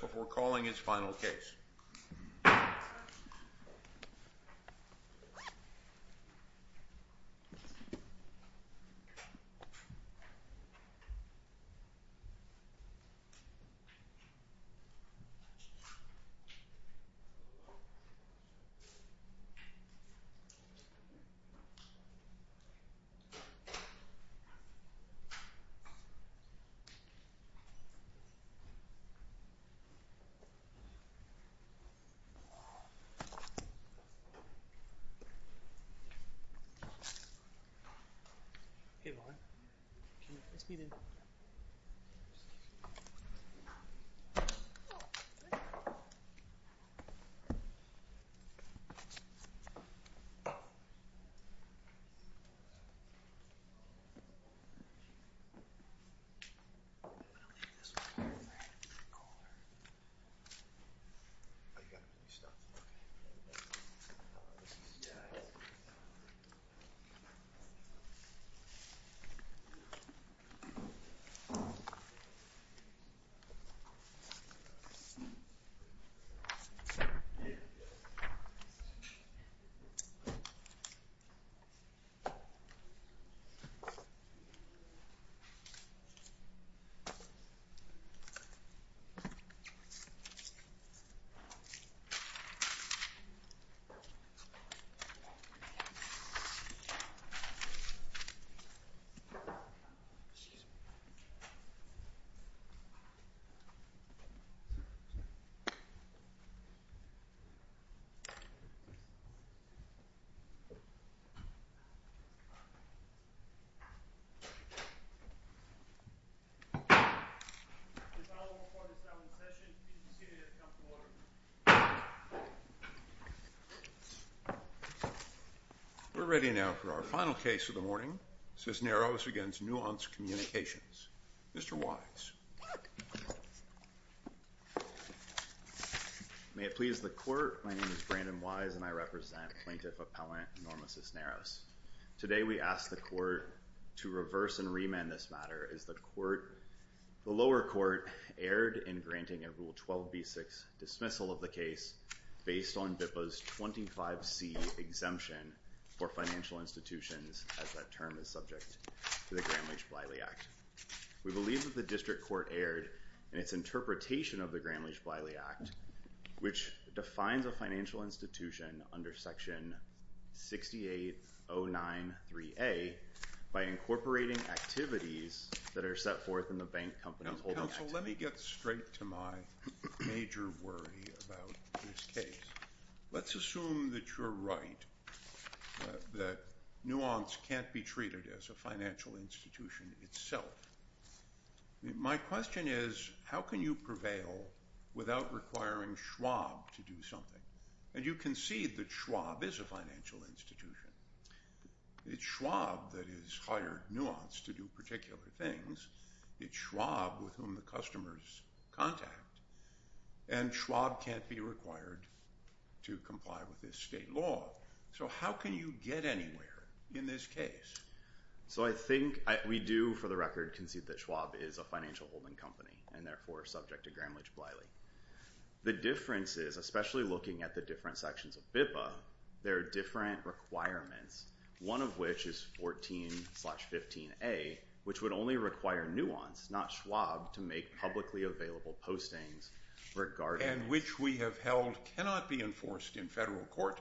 before calling its final case. We're ready now for our final case of the morning, Cisneros v. Nuance Communications. Mr. Wise. May it please the Court, my name is Brandon Wise and I represent Plaintiff Appellant Norma Cisneros. Today we ask the Court to reverse and remand this matter as the lower court erred in granting a Rule 12b-6 dismissal of the case based on BIPA's 25c exemption for financial institutions as that term is subject to the Gramm-Leach-Bliley Act. We believe that the District Court erred in its interpretation of the Gramm-Leach-Bliley Act, which defines a financial institution under Section 6809-3A by incorporating activities that are set forth in the Bank Companies Holding Act. Now, counsel, let me get straight to my major worry about this case. Let's assume that you're right, that Nuance can't be treated as a financial institution itself. My question is, how can you prevail without requiring Schwab to do something? And you can see that Schwab is a financial institution. It's Schwab that has hired Nuance to do particular things. It's Schwab with whom the customers contact. And Schwab can't be required to comply with this state law. So how can you get anywhere in this case? So I think we do, for the record, concede that Schwab is a financial holding company and therefore subject to Gramm-Leach-Bliley. The difference is, especially looking at the different sections of BIPA, there are different requirements, one of which is 14-15-A, which would only require Nuance, not Schwab, to make publicly available postings regarding- And which we have held cannot be enforced in federal court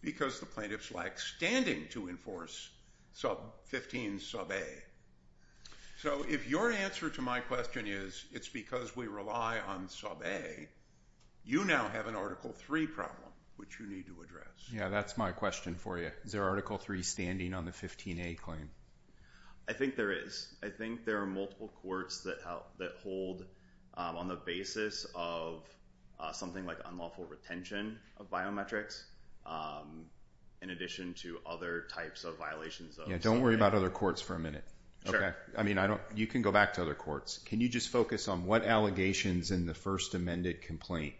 because the plaintiffs lack standing to enforce 15-A. So if your answer to my question is, it's because we rely on Sub-A, you now have an Article 3 problem which you need to address. Yeah, that's my question for you. Is there Article 3 standing on the 15-A claim? I think there is. I think there are multiple courts that hold on the basis of something like unlawful retention of biometrics in addition to other types of violations of Sub-A. Yeah, don't worry about other courts for a minute. Sure. I mean, you can go back to other courts. Can you just focus on what allegations in the first amended complaint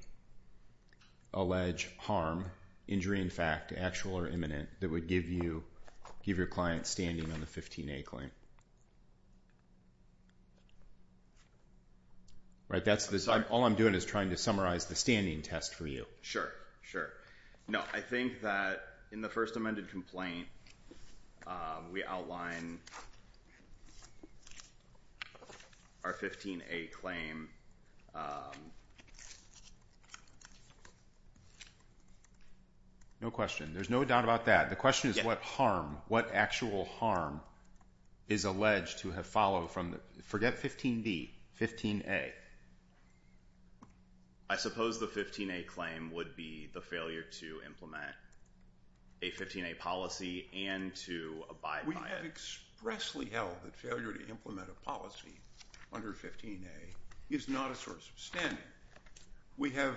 allege harm, injury in fact, actual or imminent, that would give your client standing on the 15-A claim? All I'm doing is trying to summarize the standing test for you. Sure, sure. No, I think that in the first amended complaint, we outline our 15-A claim. No question. There's no doubt about that. The question is what harm, what actual harm is alleged to have followed from the- forget 15-B, 15-A. I suppose the 15-A claim would be the failure to implement a 15-A policy and to abide by it. We have expressly held that failure to implement a policy under 15-A is not a source of standing. We have,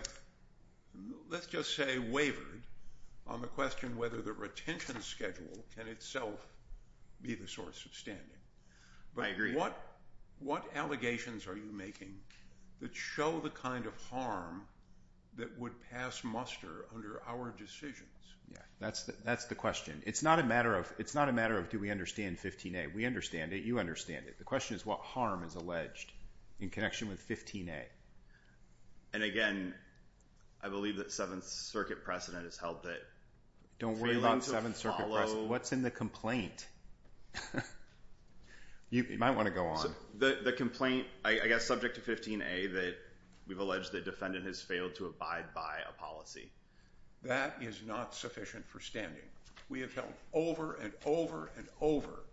let's just say, wavered on the question whether the retention schedule can itself be the source of standing. I agree. What allegations are you making that show the kind of harm that would pass muster under our decisions? That's the question. It's not a matter of do we understand 15-A. We understand it. You understand it. The question is what harm is alleged in connection with 15-A. And again, I believe that Seventh Circuit precedent has helped it. Don't worry about Seventh Circuit precedent. What's in the complaint? You might want to go on. The complaint, I guess, subject to 15-A that we've alleged the defendant has failed to abide by a policy. That is not sufficient for standing. We have held over and over and over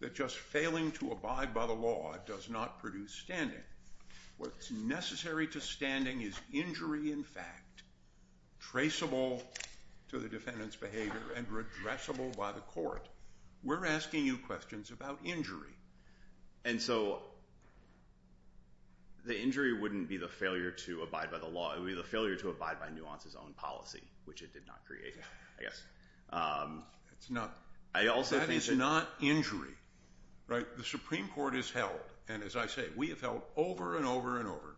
that just failing to abide by the law does not produce standing. What's necessary to standing is injury in fact, traceable to the defendant's behavior and redressable by the court. We're asking you questions about injury. And so the injury wouldn't be the failure to abide by the law. It would be the failure to abide by Nuance's own policy, which it did not create, I guess. That is not injury. The Supreme Court has held, and as I say, we have held over and over and over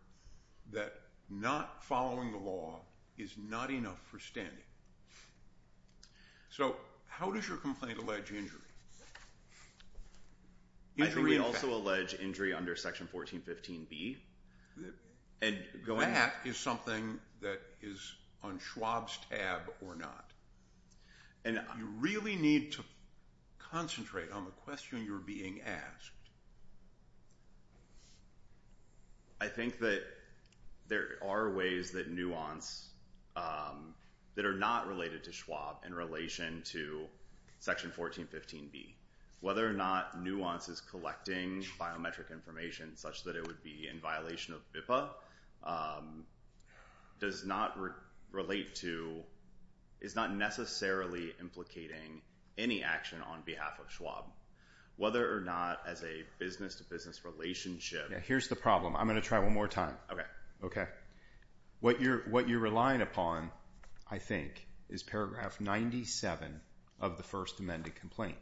that not following the law is not enough for standing. So how does your complaint allege injury? I think we also allege injury under Section 1415B. That is something that is on Schwab's tab or not. You really need to concentrate on the question you're being asked. I think that there are ways that Nuance, that are not related to Schwab in relation to Section 1415B. Whether or not Nuance is collecting biometric information such that it would be in violation of BIPA does not relate to, is not necessarily implicating any action on behalf of Schwab. Whether or not as a business-to-business relationship. Here's the problem. I'm going to try one more time. What you're relying upon, I think, is paragraph 97 of the First Amendment complaint.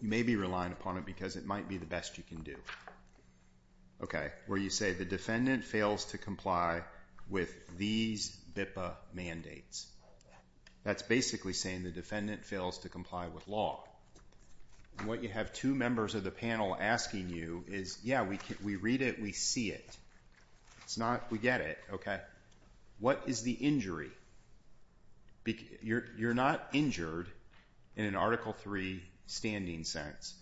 You may be relying upon it because it might be the best you can do. Where you say the defendant fails to comply with these BIPA mandates. That's basically saying the defendant fails to comply with law. What you have two members of the panel asking you is, yeah, we read it, we see it. It's not, we get it. What is the injury? You're not injured in an Article 3 standing sense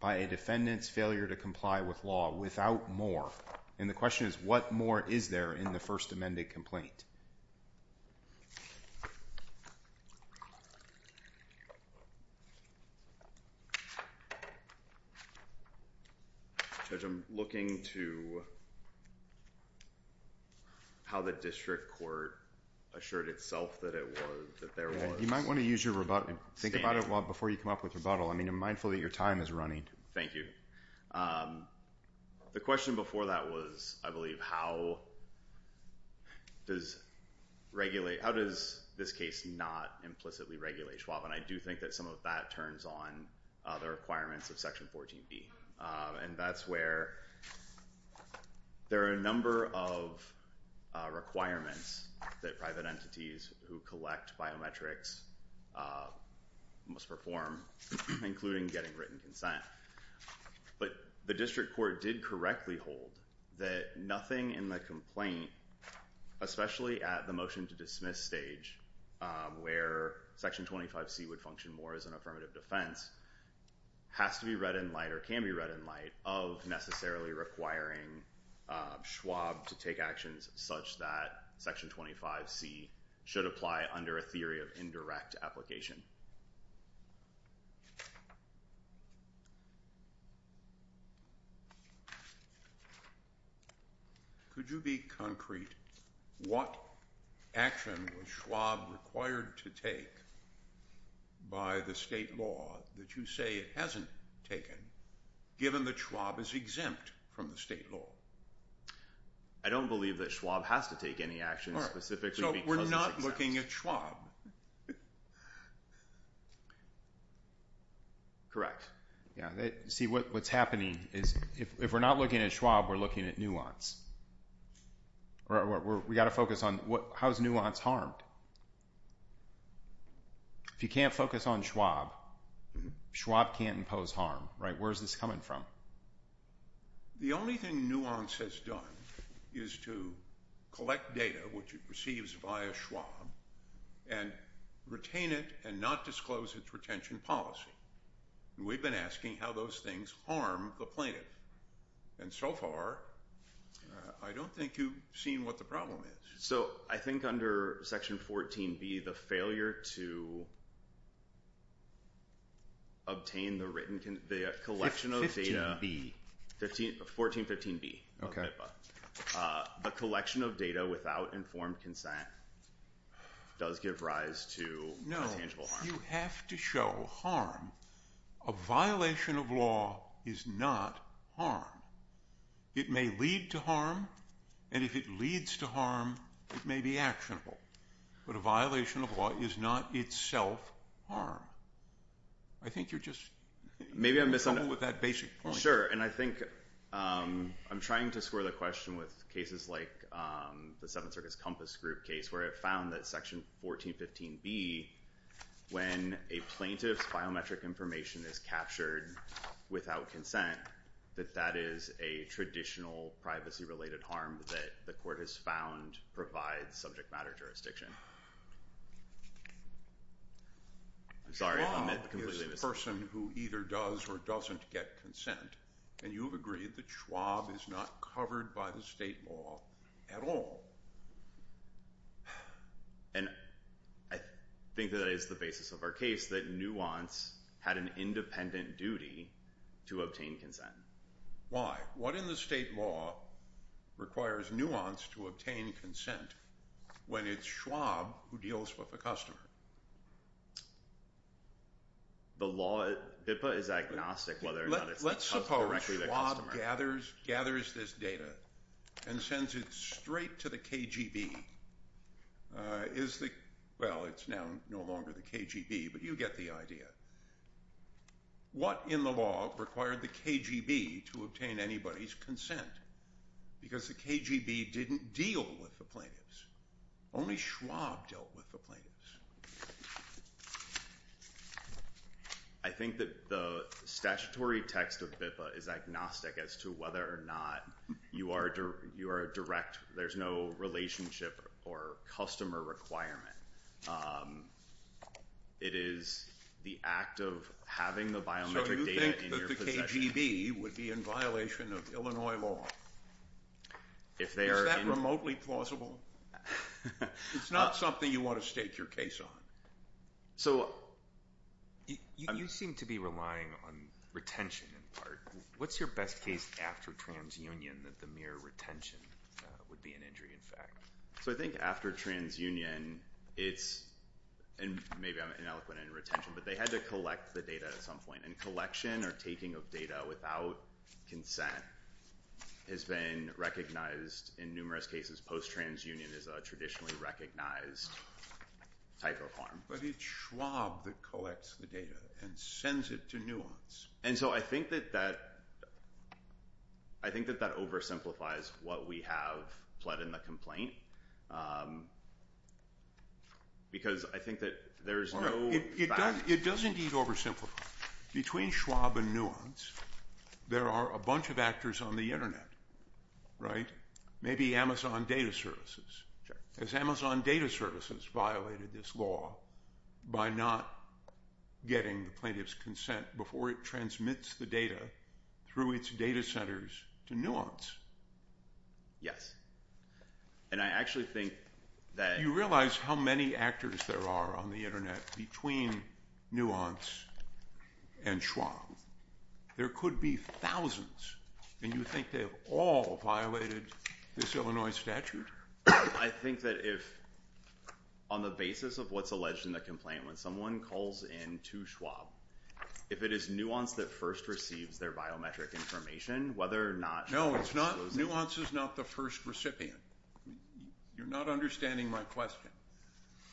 by a defendant's failure to comply with law without more. And the question is, what more is there in the First Amendment complaint? Judge, I'm looking to how the district court assured itself that it was, that there was. You might want to use your rebuttal. Think about it before you come up with rebuttal. I mean, mindful that your time is running. Thank you. The question before that was, I believe, how does regulate, how does this case not implicitly regulate Schwab? And I do think that some of that turns on the requirements of Section 14B. And that's where there are a number of requirements that private entities who collect biometrics must perform, including getting written consent. But the district court did correctly hold that nothing in the complaint, especially at the motion to dismiss stage where Section 25C would function more as an affirmative defense, has to be read in light or can be read in light of necessarily requiring Schwab to take actions such that Section 25C should apply under a theory of indirect application. Could you be concrete? What action was Schwab required to take by the state law that you say it hasn't taken, given that Schwab is exempt from the state law? I don't believe that Schwab has to take any action specifically because it's exempt. It's Schwab. Correct. See, what's happening is if we're not looking at Schwab, we're looking at nuance. We've got to focus on how is nuance harmed? If you can't focus on Schwab, Schwab can't impose harm, right? Where is this coming from? The only thing nuance has done is to collect data, which it receives via Schwab, and retain it and not disclose its retention policy. We've been asking how those things harm the plaintiff. And so far, I don't think you've seen what the problem is. So I think under Section 14B, the failure to obtain the written collection of data. 1415B. The collection of data without informed consent does give rise to tangible harm. No, you have to show harm. A violation of law is not harm. It may lead to harm, and if it leads to harm, it may be actionable. But a violation of law is not itself harm. I think you're just- Maybe I'm missing- With that basic point. Sure, and I think I'm trying to square the question with cases like the Seventh Circus Compass Group case, where it found that Section 1415B, when a plaintiff's biometric information is captured without consent, that that is a traditional privacy-related harm that the court has found provides subject matter jurisdiction. I'm sorry if I completely missed- Schwab is a person who either does or doesn't get consent, and you've agreed that Schwab is not covered by the state law at all. And I think that is the basis of our case, that Nuance had an independent duty to obtain consent. Why? What in the state law requires Nuance to obtain consent when it's Schwab who deals with a customer? The law at HIPAA is agnostic whether or not it's- Let's suppose Schwab gathers this data and sends it straight to the KGB. Well, it's now no longer the KGB, but you get the idea. What in the law required the KGB to obtain anybody's consent? Because the KGB didn't deal with the plaintiffs. Only Schwab dealt with the plaintiffs. I think that the statutory text of HIPAA is agnostic as to whether or not you are a direct- there's no relationship or customer requirement. It is the act of having the biometric data in your possession- So you think that the KGB would be in violation of Illinois law? Is that remotely plausible? It's not something you want to stake your case on. So- You seem to be relying on retention in part. What's your best case after transunion that the mere retention would be an injury in fact? So I think after transunion, it's- and maybe I'm ineloquent in retention, but they had to collect the data at some point. And collection or taking of data without consent has been recognized in numerous cases. Post-transunion is a traditionally recognized type of harm. But it's Schwab that collects the data and sends it to Nuance. And so I think that that- I think that that oversimplifies what we have pled in the complaint. Because I think that there's no- It does indeed oversimplify. Between Schwab and Nuance, there are a bunch of actors on the internet, right? Maybe Amazon Data Services. Has Amazon Data Services violated this law by not getting the plaintiff's consent before it transmits the data through its data centers to Nuance? Yes. And I actually think that- You realize how many actors there are on the internet between Nuance and Schwab? There could be thousands. And you think they've all violated this Illinois statute? I think that if- On the basis of what's alleged in the complaint, when someone calls in to Schwab, if it is Nuance that first receives their biometric information, whether or not- No, it's not- Nuance is not the first recipient. You're not understanding my question.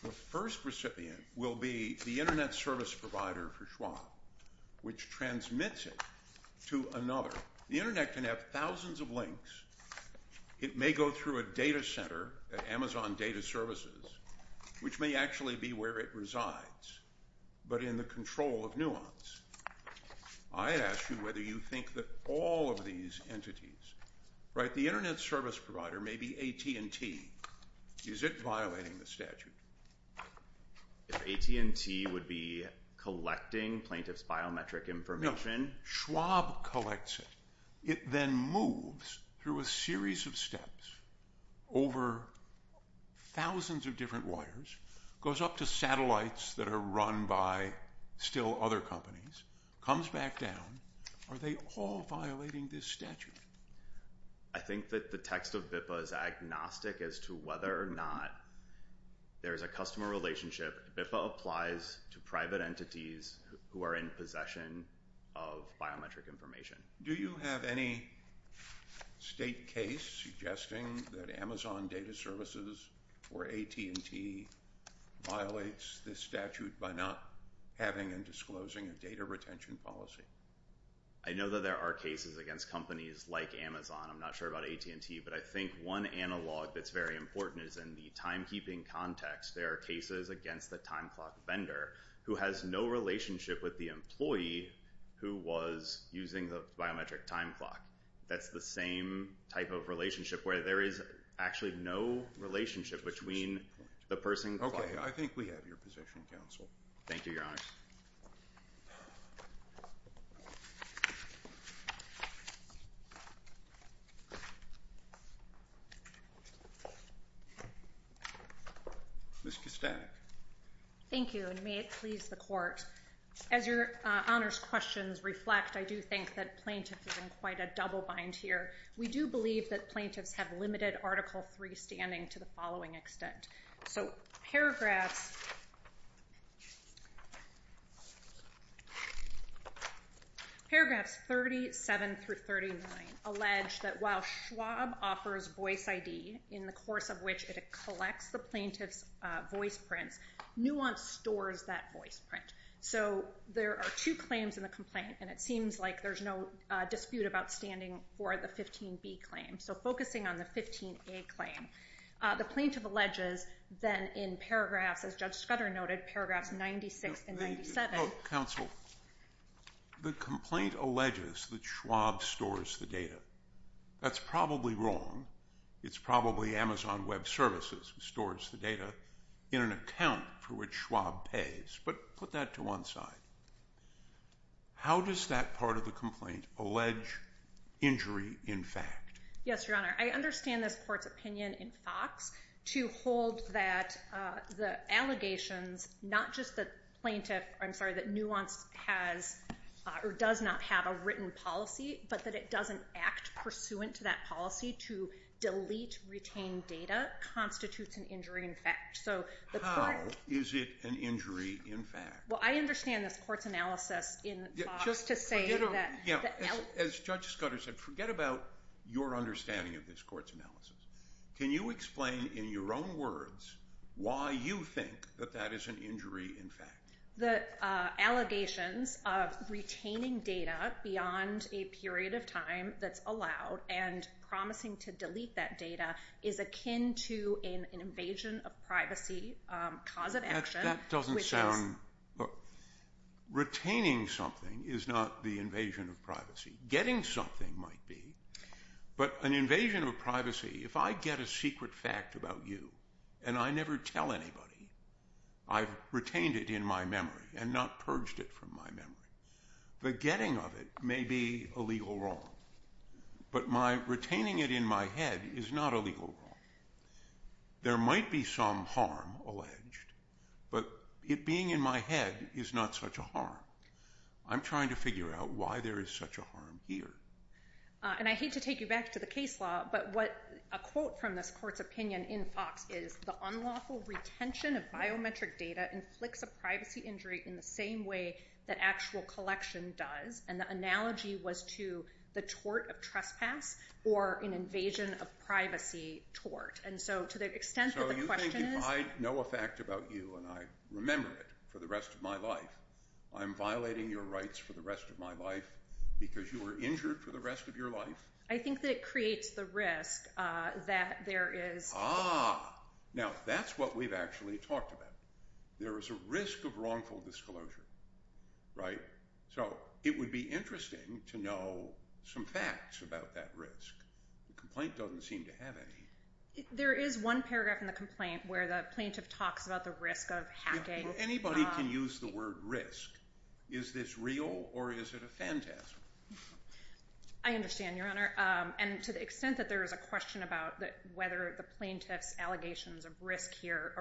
The first recipient will be the internet service provider for Schwab, which transmits it to another. The internet can have thousands of links. It may go through a data center at Amazon Data Services, which may actually be where it resides, but in the control of Nuance. I ask you whether you think that all of these entities- The internet service provider may be AT&T. Is it violating the statute? If AT&T would be collecting plaintiff's biometric information- No, Schwab collects it. It then moves through a series of steps over thousands of different wires, goes up to satellites that are run by still other companies, comes back down. Are they all violating this statute? I think that the text of BIPA is agnostic as to whether or not there is a customer relationship. BIPA applies to private entities who are in possession of biometric information. Do you have any state case suggesting that Amazon Data Services or AT&T violates this statute by not having and disclosing a data retention policy? I know that there are cases against companies like Amazon. I'm not sure about AT&T, but I think one analog that's very important is in the timekeeping context. There are cases against the time clock vendor who has no relationship with the employee who was using the biometric time clock. That's the same type of relationship where there is actually no relationship between the person- Okay, I think we have your position, counsel. Thank you, Your Honor. Ms. Kostanek. Thank you, and may it please the Court. As Your Honor's questions reflect, I do think that plaintiff is in quite a double bind here. We do believe that plaintiffs have limited Article III standing to the following extent. Paragraphs 37 through 39 allege that while Schwab offers voice ID in the course of which it collects the plaintiff's voice prints, Nuance stores that voice print. There are two claims in the complaint, and it seems like there's no dispute about standing for the 15B claim, so focusing on the 15A claim. The plaintiff alleges then in paragraphs, as Judge Scudder noted, paragraphs 96 and 97- Counsel, the complaint alleges that Schwab stores the data. That's probably wrong. It's probably Amazon Web Services stores the data in an account for which Schwab pays, but put that to one side. How does that part of the complaint allege injury in fact? Yes, Your Honor. I understand this court's opinion in Fox to hold that the allegations, not just that Nuance does not have a written policy, but that it doesn't act pursuant to that policy to delete, retain data constitutes an injury in fact. How is it an injury in fact? Well, I understand this court's analysis in Fox to say that- Can you explain in your own words why you think that that is an injury in fact? The allegations of retaining data beyond a period of time that's allowed and promising to delete that data is akin to an invasion of privacy, cause of action, which is- That doesn't sound- Retaining something is not the invasion of privacy. Getting something might be, but an invasion of privacy, if I get a secret fact about you and I never tell anybody, I've retained it in my memory and not purged it from my memory. The getting of it may be a legal wrong, but my retaining it in my head is not a legal wrong. There might be some harm alleged, but it being in my head is not such a harm. I'm trying to figure out why there is such a harm here. And I hate to take you back to the case law, but what a quote from this court's opinion in Fox is, the unlawful retention of biometric data inflicts a privacy injury in the same way that actual collection does, and the analogy was to the tort of trespass or an invasion of privacy tort. And so to the extent that the question is- So you think if I know a fact about you and I remember it for the rest of my life, I'm violating your rights for the rest of my life because you were injured for the rest of your life? I think that it creates the risk that there is- Ah, now that's what we've actually talked about. There is a risk of wrongful disclosure, right? So it would be interesting to know some facts about that risk. The complaint doesn't seem to have any. There is one paragraph in the complaint where the plaintiff talks about the risk of hacking. Anybody can use the word risk. Is this real or is it a fantasm? I understand, Your Honor. And to the extent that there is a question about whether the plaintiff's allegations of risk here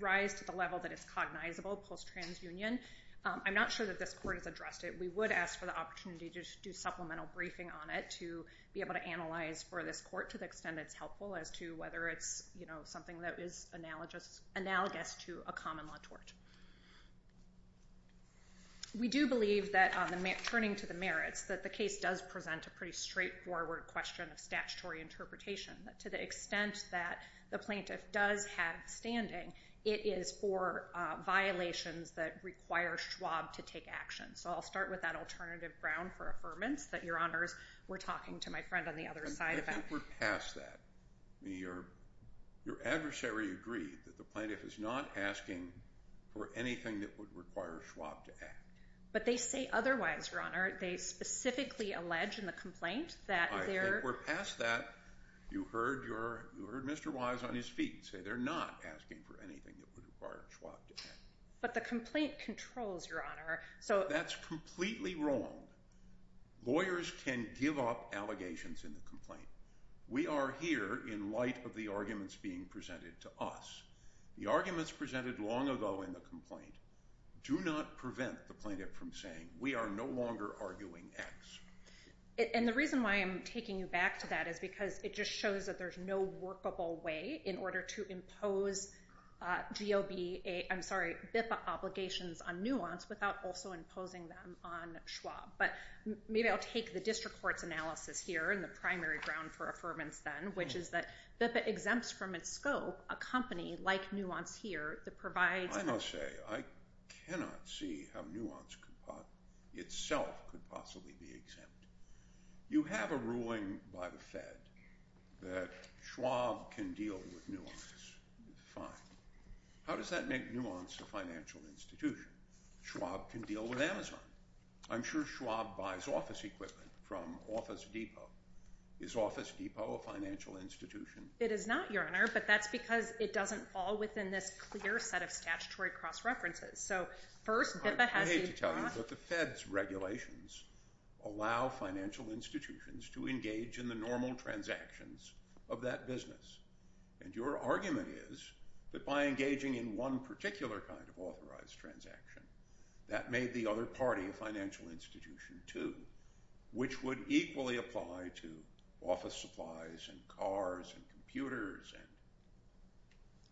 rise to the level that it's cognizable post-transunion, I'm not sure that this court has addressed it. We would ask for the opportunity to do supplemental briefing on it to be able to analyze for this court to the extent that it's helpful as to whether it's something that is analogous to a common-law tort. We do believe that, turning to the merits, that the case does present a pretty straightforward question of statutory interpretation. To the extent that the plaintiff does have standing, it is for violations that require Schwab to take action. So I'll start with that alternative ground for affirmance that, Your Honors, we're talking to my friend on the other side about. I think we're past that. Your adversary agreed that the plaintiff is not asking for anything that would require Schwab to act. But they say otherwise, Your Honor. They specifically allege in the complaint that they're... I think we're past that. You heard Mr. Wise on his feet say they're not asking for anything that would require Schwab to act. But the complaint controls, Your Honor. That's completely wrong. Lawyers can give up allegations in the complaint. We are here in light of the arguments being presented to us. The arguments presented long ago in the complaint do not prevent the plaintiff from saying we are no longer arguing X. And the reason why I'm taking you back to that is because it just shows that there's no workable way in order to impose BIFA obligations on Nuance without also imposing them on Schwab. But maybe I'll take the district court's analysis here and the primary ground for affirmance then, which is that BIFA exempts from its scope a company like Nuance here that provides... I must say I cannot see how Nuance itself could possibly be exempt. You have a ruling by the Fed that Schwab can deal with Nuance. Fine. How does that make Nuance a financial institution? Schwab can deal with Amazon. I'm sure Schwab buys office equipment from Office Depot. Is Office Depot a financial institution? It is not, Your Honor. But that's because it doesn't fall within this clear set of statutory cross-references. So first, BIFA has the... I hate to tell you, but the Fed's regulations allow financial institutions to engage in the normal transactions of that business. And your argument is that by engaging in one particular kind of authorized transaction, that made the other party a financial institution, too, which would equally apply to office supplies and cars and computers.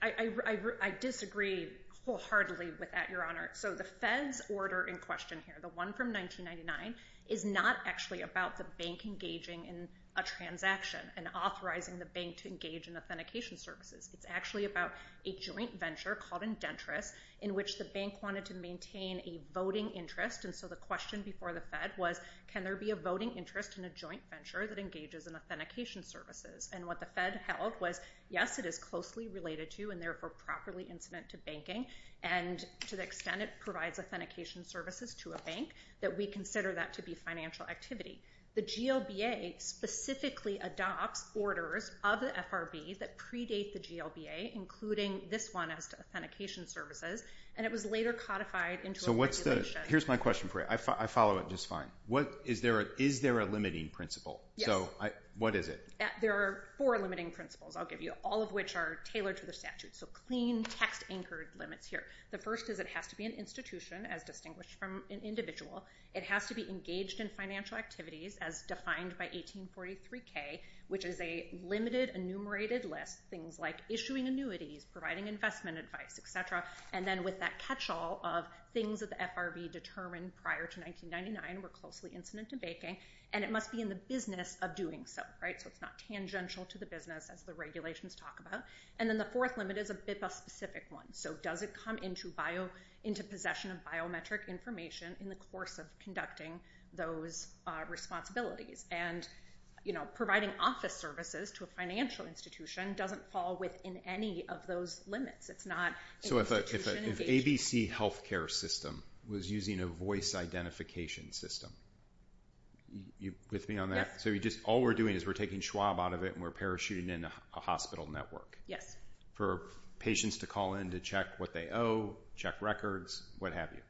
I disagree wholeheartedly with that, Your Honor. So the Fed's order in question here, the one from 1999, is not actually about the bank engaging in a transaction and authorizing the bank to engage in authentication services. It's actually about a joint venture called Indentris, in which the bank wanted to maintain a voting interest. And so the question before the Fed was, can there be a voting interest in a joint venture that engages in authentication services? And what the Fed held was, yes, it is closely related to and therefore properly incident to banking, and to the extent it provides authentication services to a bank, that we consider that to be financial activity. The GLBA specifically adopts orders of the FRB that predate the GLBA, including this one as to authentication services, and it was later codified into a regulation. So here's my question for you. I follow it just fine. Is there a limiting principle? Yes. So what is it? There are four limiting principles, I'll give you, all of which are tailored to the statute, so clean, text-anchored limits here. The first is it has to be an institution, as distinguished from an individual. It has to be engaged in financial activities, as defined by 1843K, which is a limited enumerated list, things like issuing annuities, providing investment advice, et cetera. And then with that catch-all of things that the FRB determined prior to 1999 were closely incident to banking, and it must be in the business of doing so, right? So it's not tangential to the business, as the regulations talk about. And then the fourth limit is a BIPA-specific one. So does it come into possession of biometric information in the course of conducting those responsibilities? And providing office services to a financial institution doesn't fall within any of those limits. It's not an institution engagement. So if ABC Healthcare System was using a voice identification system, are you with me on that? Yes. So all we're doing is we're taking Schwab out of it and we're parachuting in a hospital network. Yes. For patients to call in to check what they owe, check records, what have you,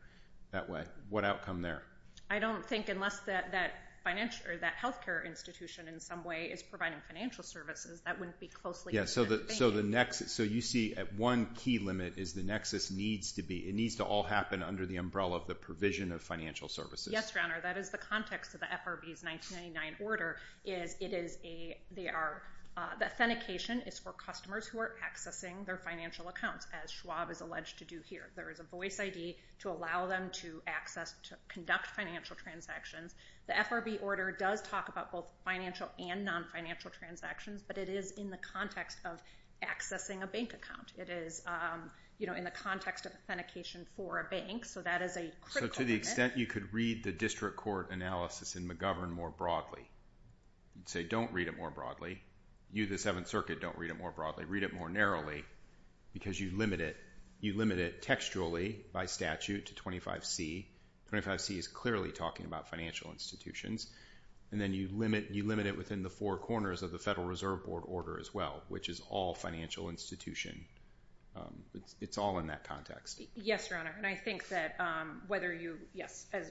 that way. What outcome there? I don't think unless that healthcare institution in some way is providing financial services, that wouldn't be closely incident to banking. So you see at one key limit is the nexus needs to be, it needs to all happen under the umbrella of the provision of financial services. Yes, Your Honor. That is the context of the FRB's 1999 order is it is a, the authentication is for customers who are accessing their financial accounts as Schwab is alleged to do here. There is a voice ID to allow them to access to conduct financial transactions. The FRB order does talk about both financial and non-financial transactions, but it is in the context of accessing a bank account. It is in the context of authentication for a bank, so that is a critical limit. So to the extent you could read the district court analysis in McGovern more broadly, you'd say don't read it more broadly. You, the Seventh Circuit, don't read it more broadly. Read it more narrowly because you limit it. You limit it textually by statute to 25C. 25C is clearly talking about financial institutions, and then you limit it within the four corners of the Federal Reserve Board order as well, which is all financial institution. It's all in that context. Yes, Your Honor, and I think that whether you, yes, it's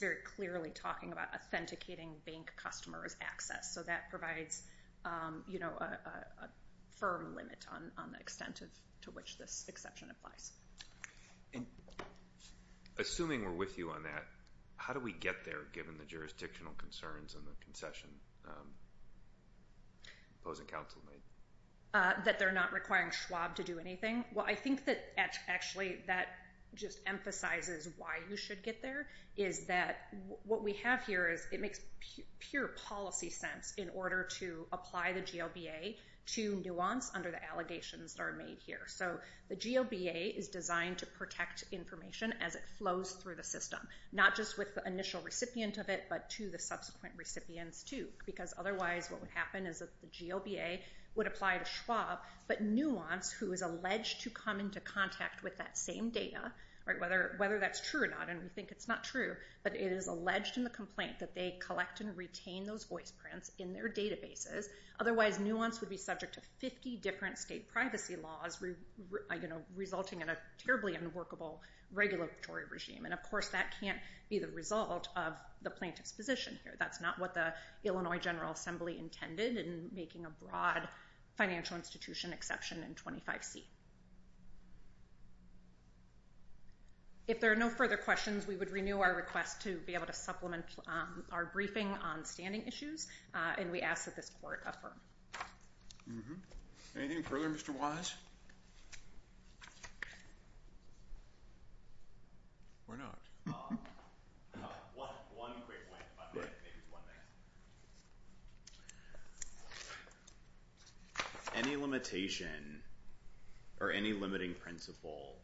very clearly talking about authenticating bank customers' access, so that provides a firm limit on the extent to which this exception applies. And assuming we're with you on that, how do we get there given the jurisdictional concerns and the concession opposing counsel made? That they're not requiring Schwab to do anything? Well, I think that actually that just emphasizes why you should get there is that what we have here is it makes pure policy sense in order to apply the GLBA to nuance under the allegations that are made here. So the GLBA is designed to protect information as it flows through the system, not just with the initial recipient of it but to the subsequent recipients too because otherwise what would happen is that the GLBA would apply to Schwab, but nuance, who is alleged to come into contact with that same data, whether that's true or not, and we think it's not true, but it is alleged in the complaint that they collect and retain those voice prints in their databases. Otherwise, nuance would be subject to 50 different state privacy laws, resulting in a terribly unworkable regulatory regime. And, of course, that can't be the result of the plaintiff's position here. That's not what the Illinois General Assembly intended in making a broad financial institution exception in 25C. If there are no further questions, we would renew our request to be able to supplement our briefing on standing issues, and we ask that this court affirm. Anything further, Mr. Wise? If not, why not? One quick point, if I may. Any limitation or any limiting principle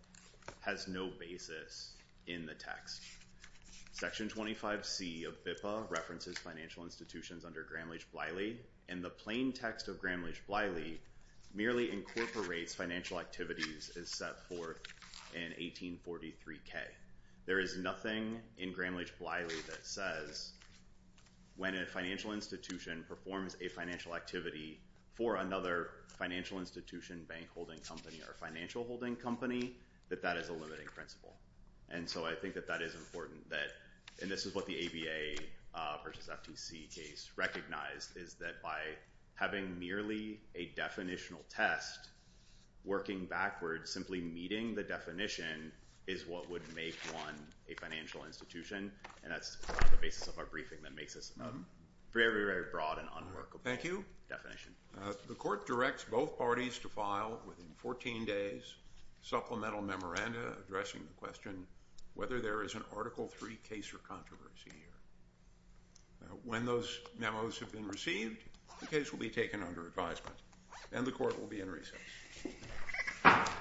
has no basis in the text. Section 25C of BIPA references financial institutions under Gramm-Leach-Bliley, and the plain text of Gramm-Leach-Bliley merely incorporates financial activities as set forth in 1843K. There is nothing in Gramm-Leach-Bliley that says when a financial institution performs a financial activity for another financial institution, bank holding company, or financial holding company, that that is a limiting principle. And so I think that that is important, and this is what the ABA versus FTC case recognized, is that by having merely a definitional test, working backwards, simply meeting the definition is what would make one a financial institution, and that's the basis of our briefing that makes this a very, very broad and unworkable definition. The court directs both parties to file, within 14 days, supplemental memoranda addressing the question whether there is an Article III case or controversy here. When those memos have been received, the case will be taken under advisement, and the court will be in recess. Thank you.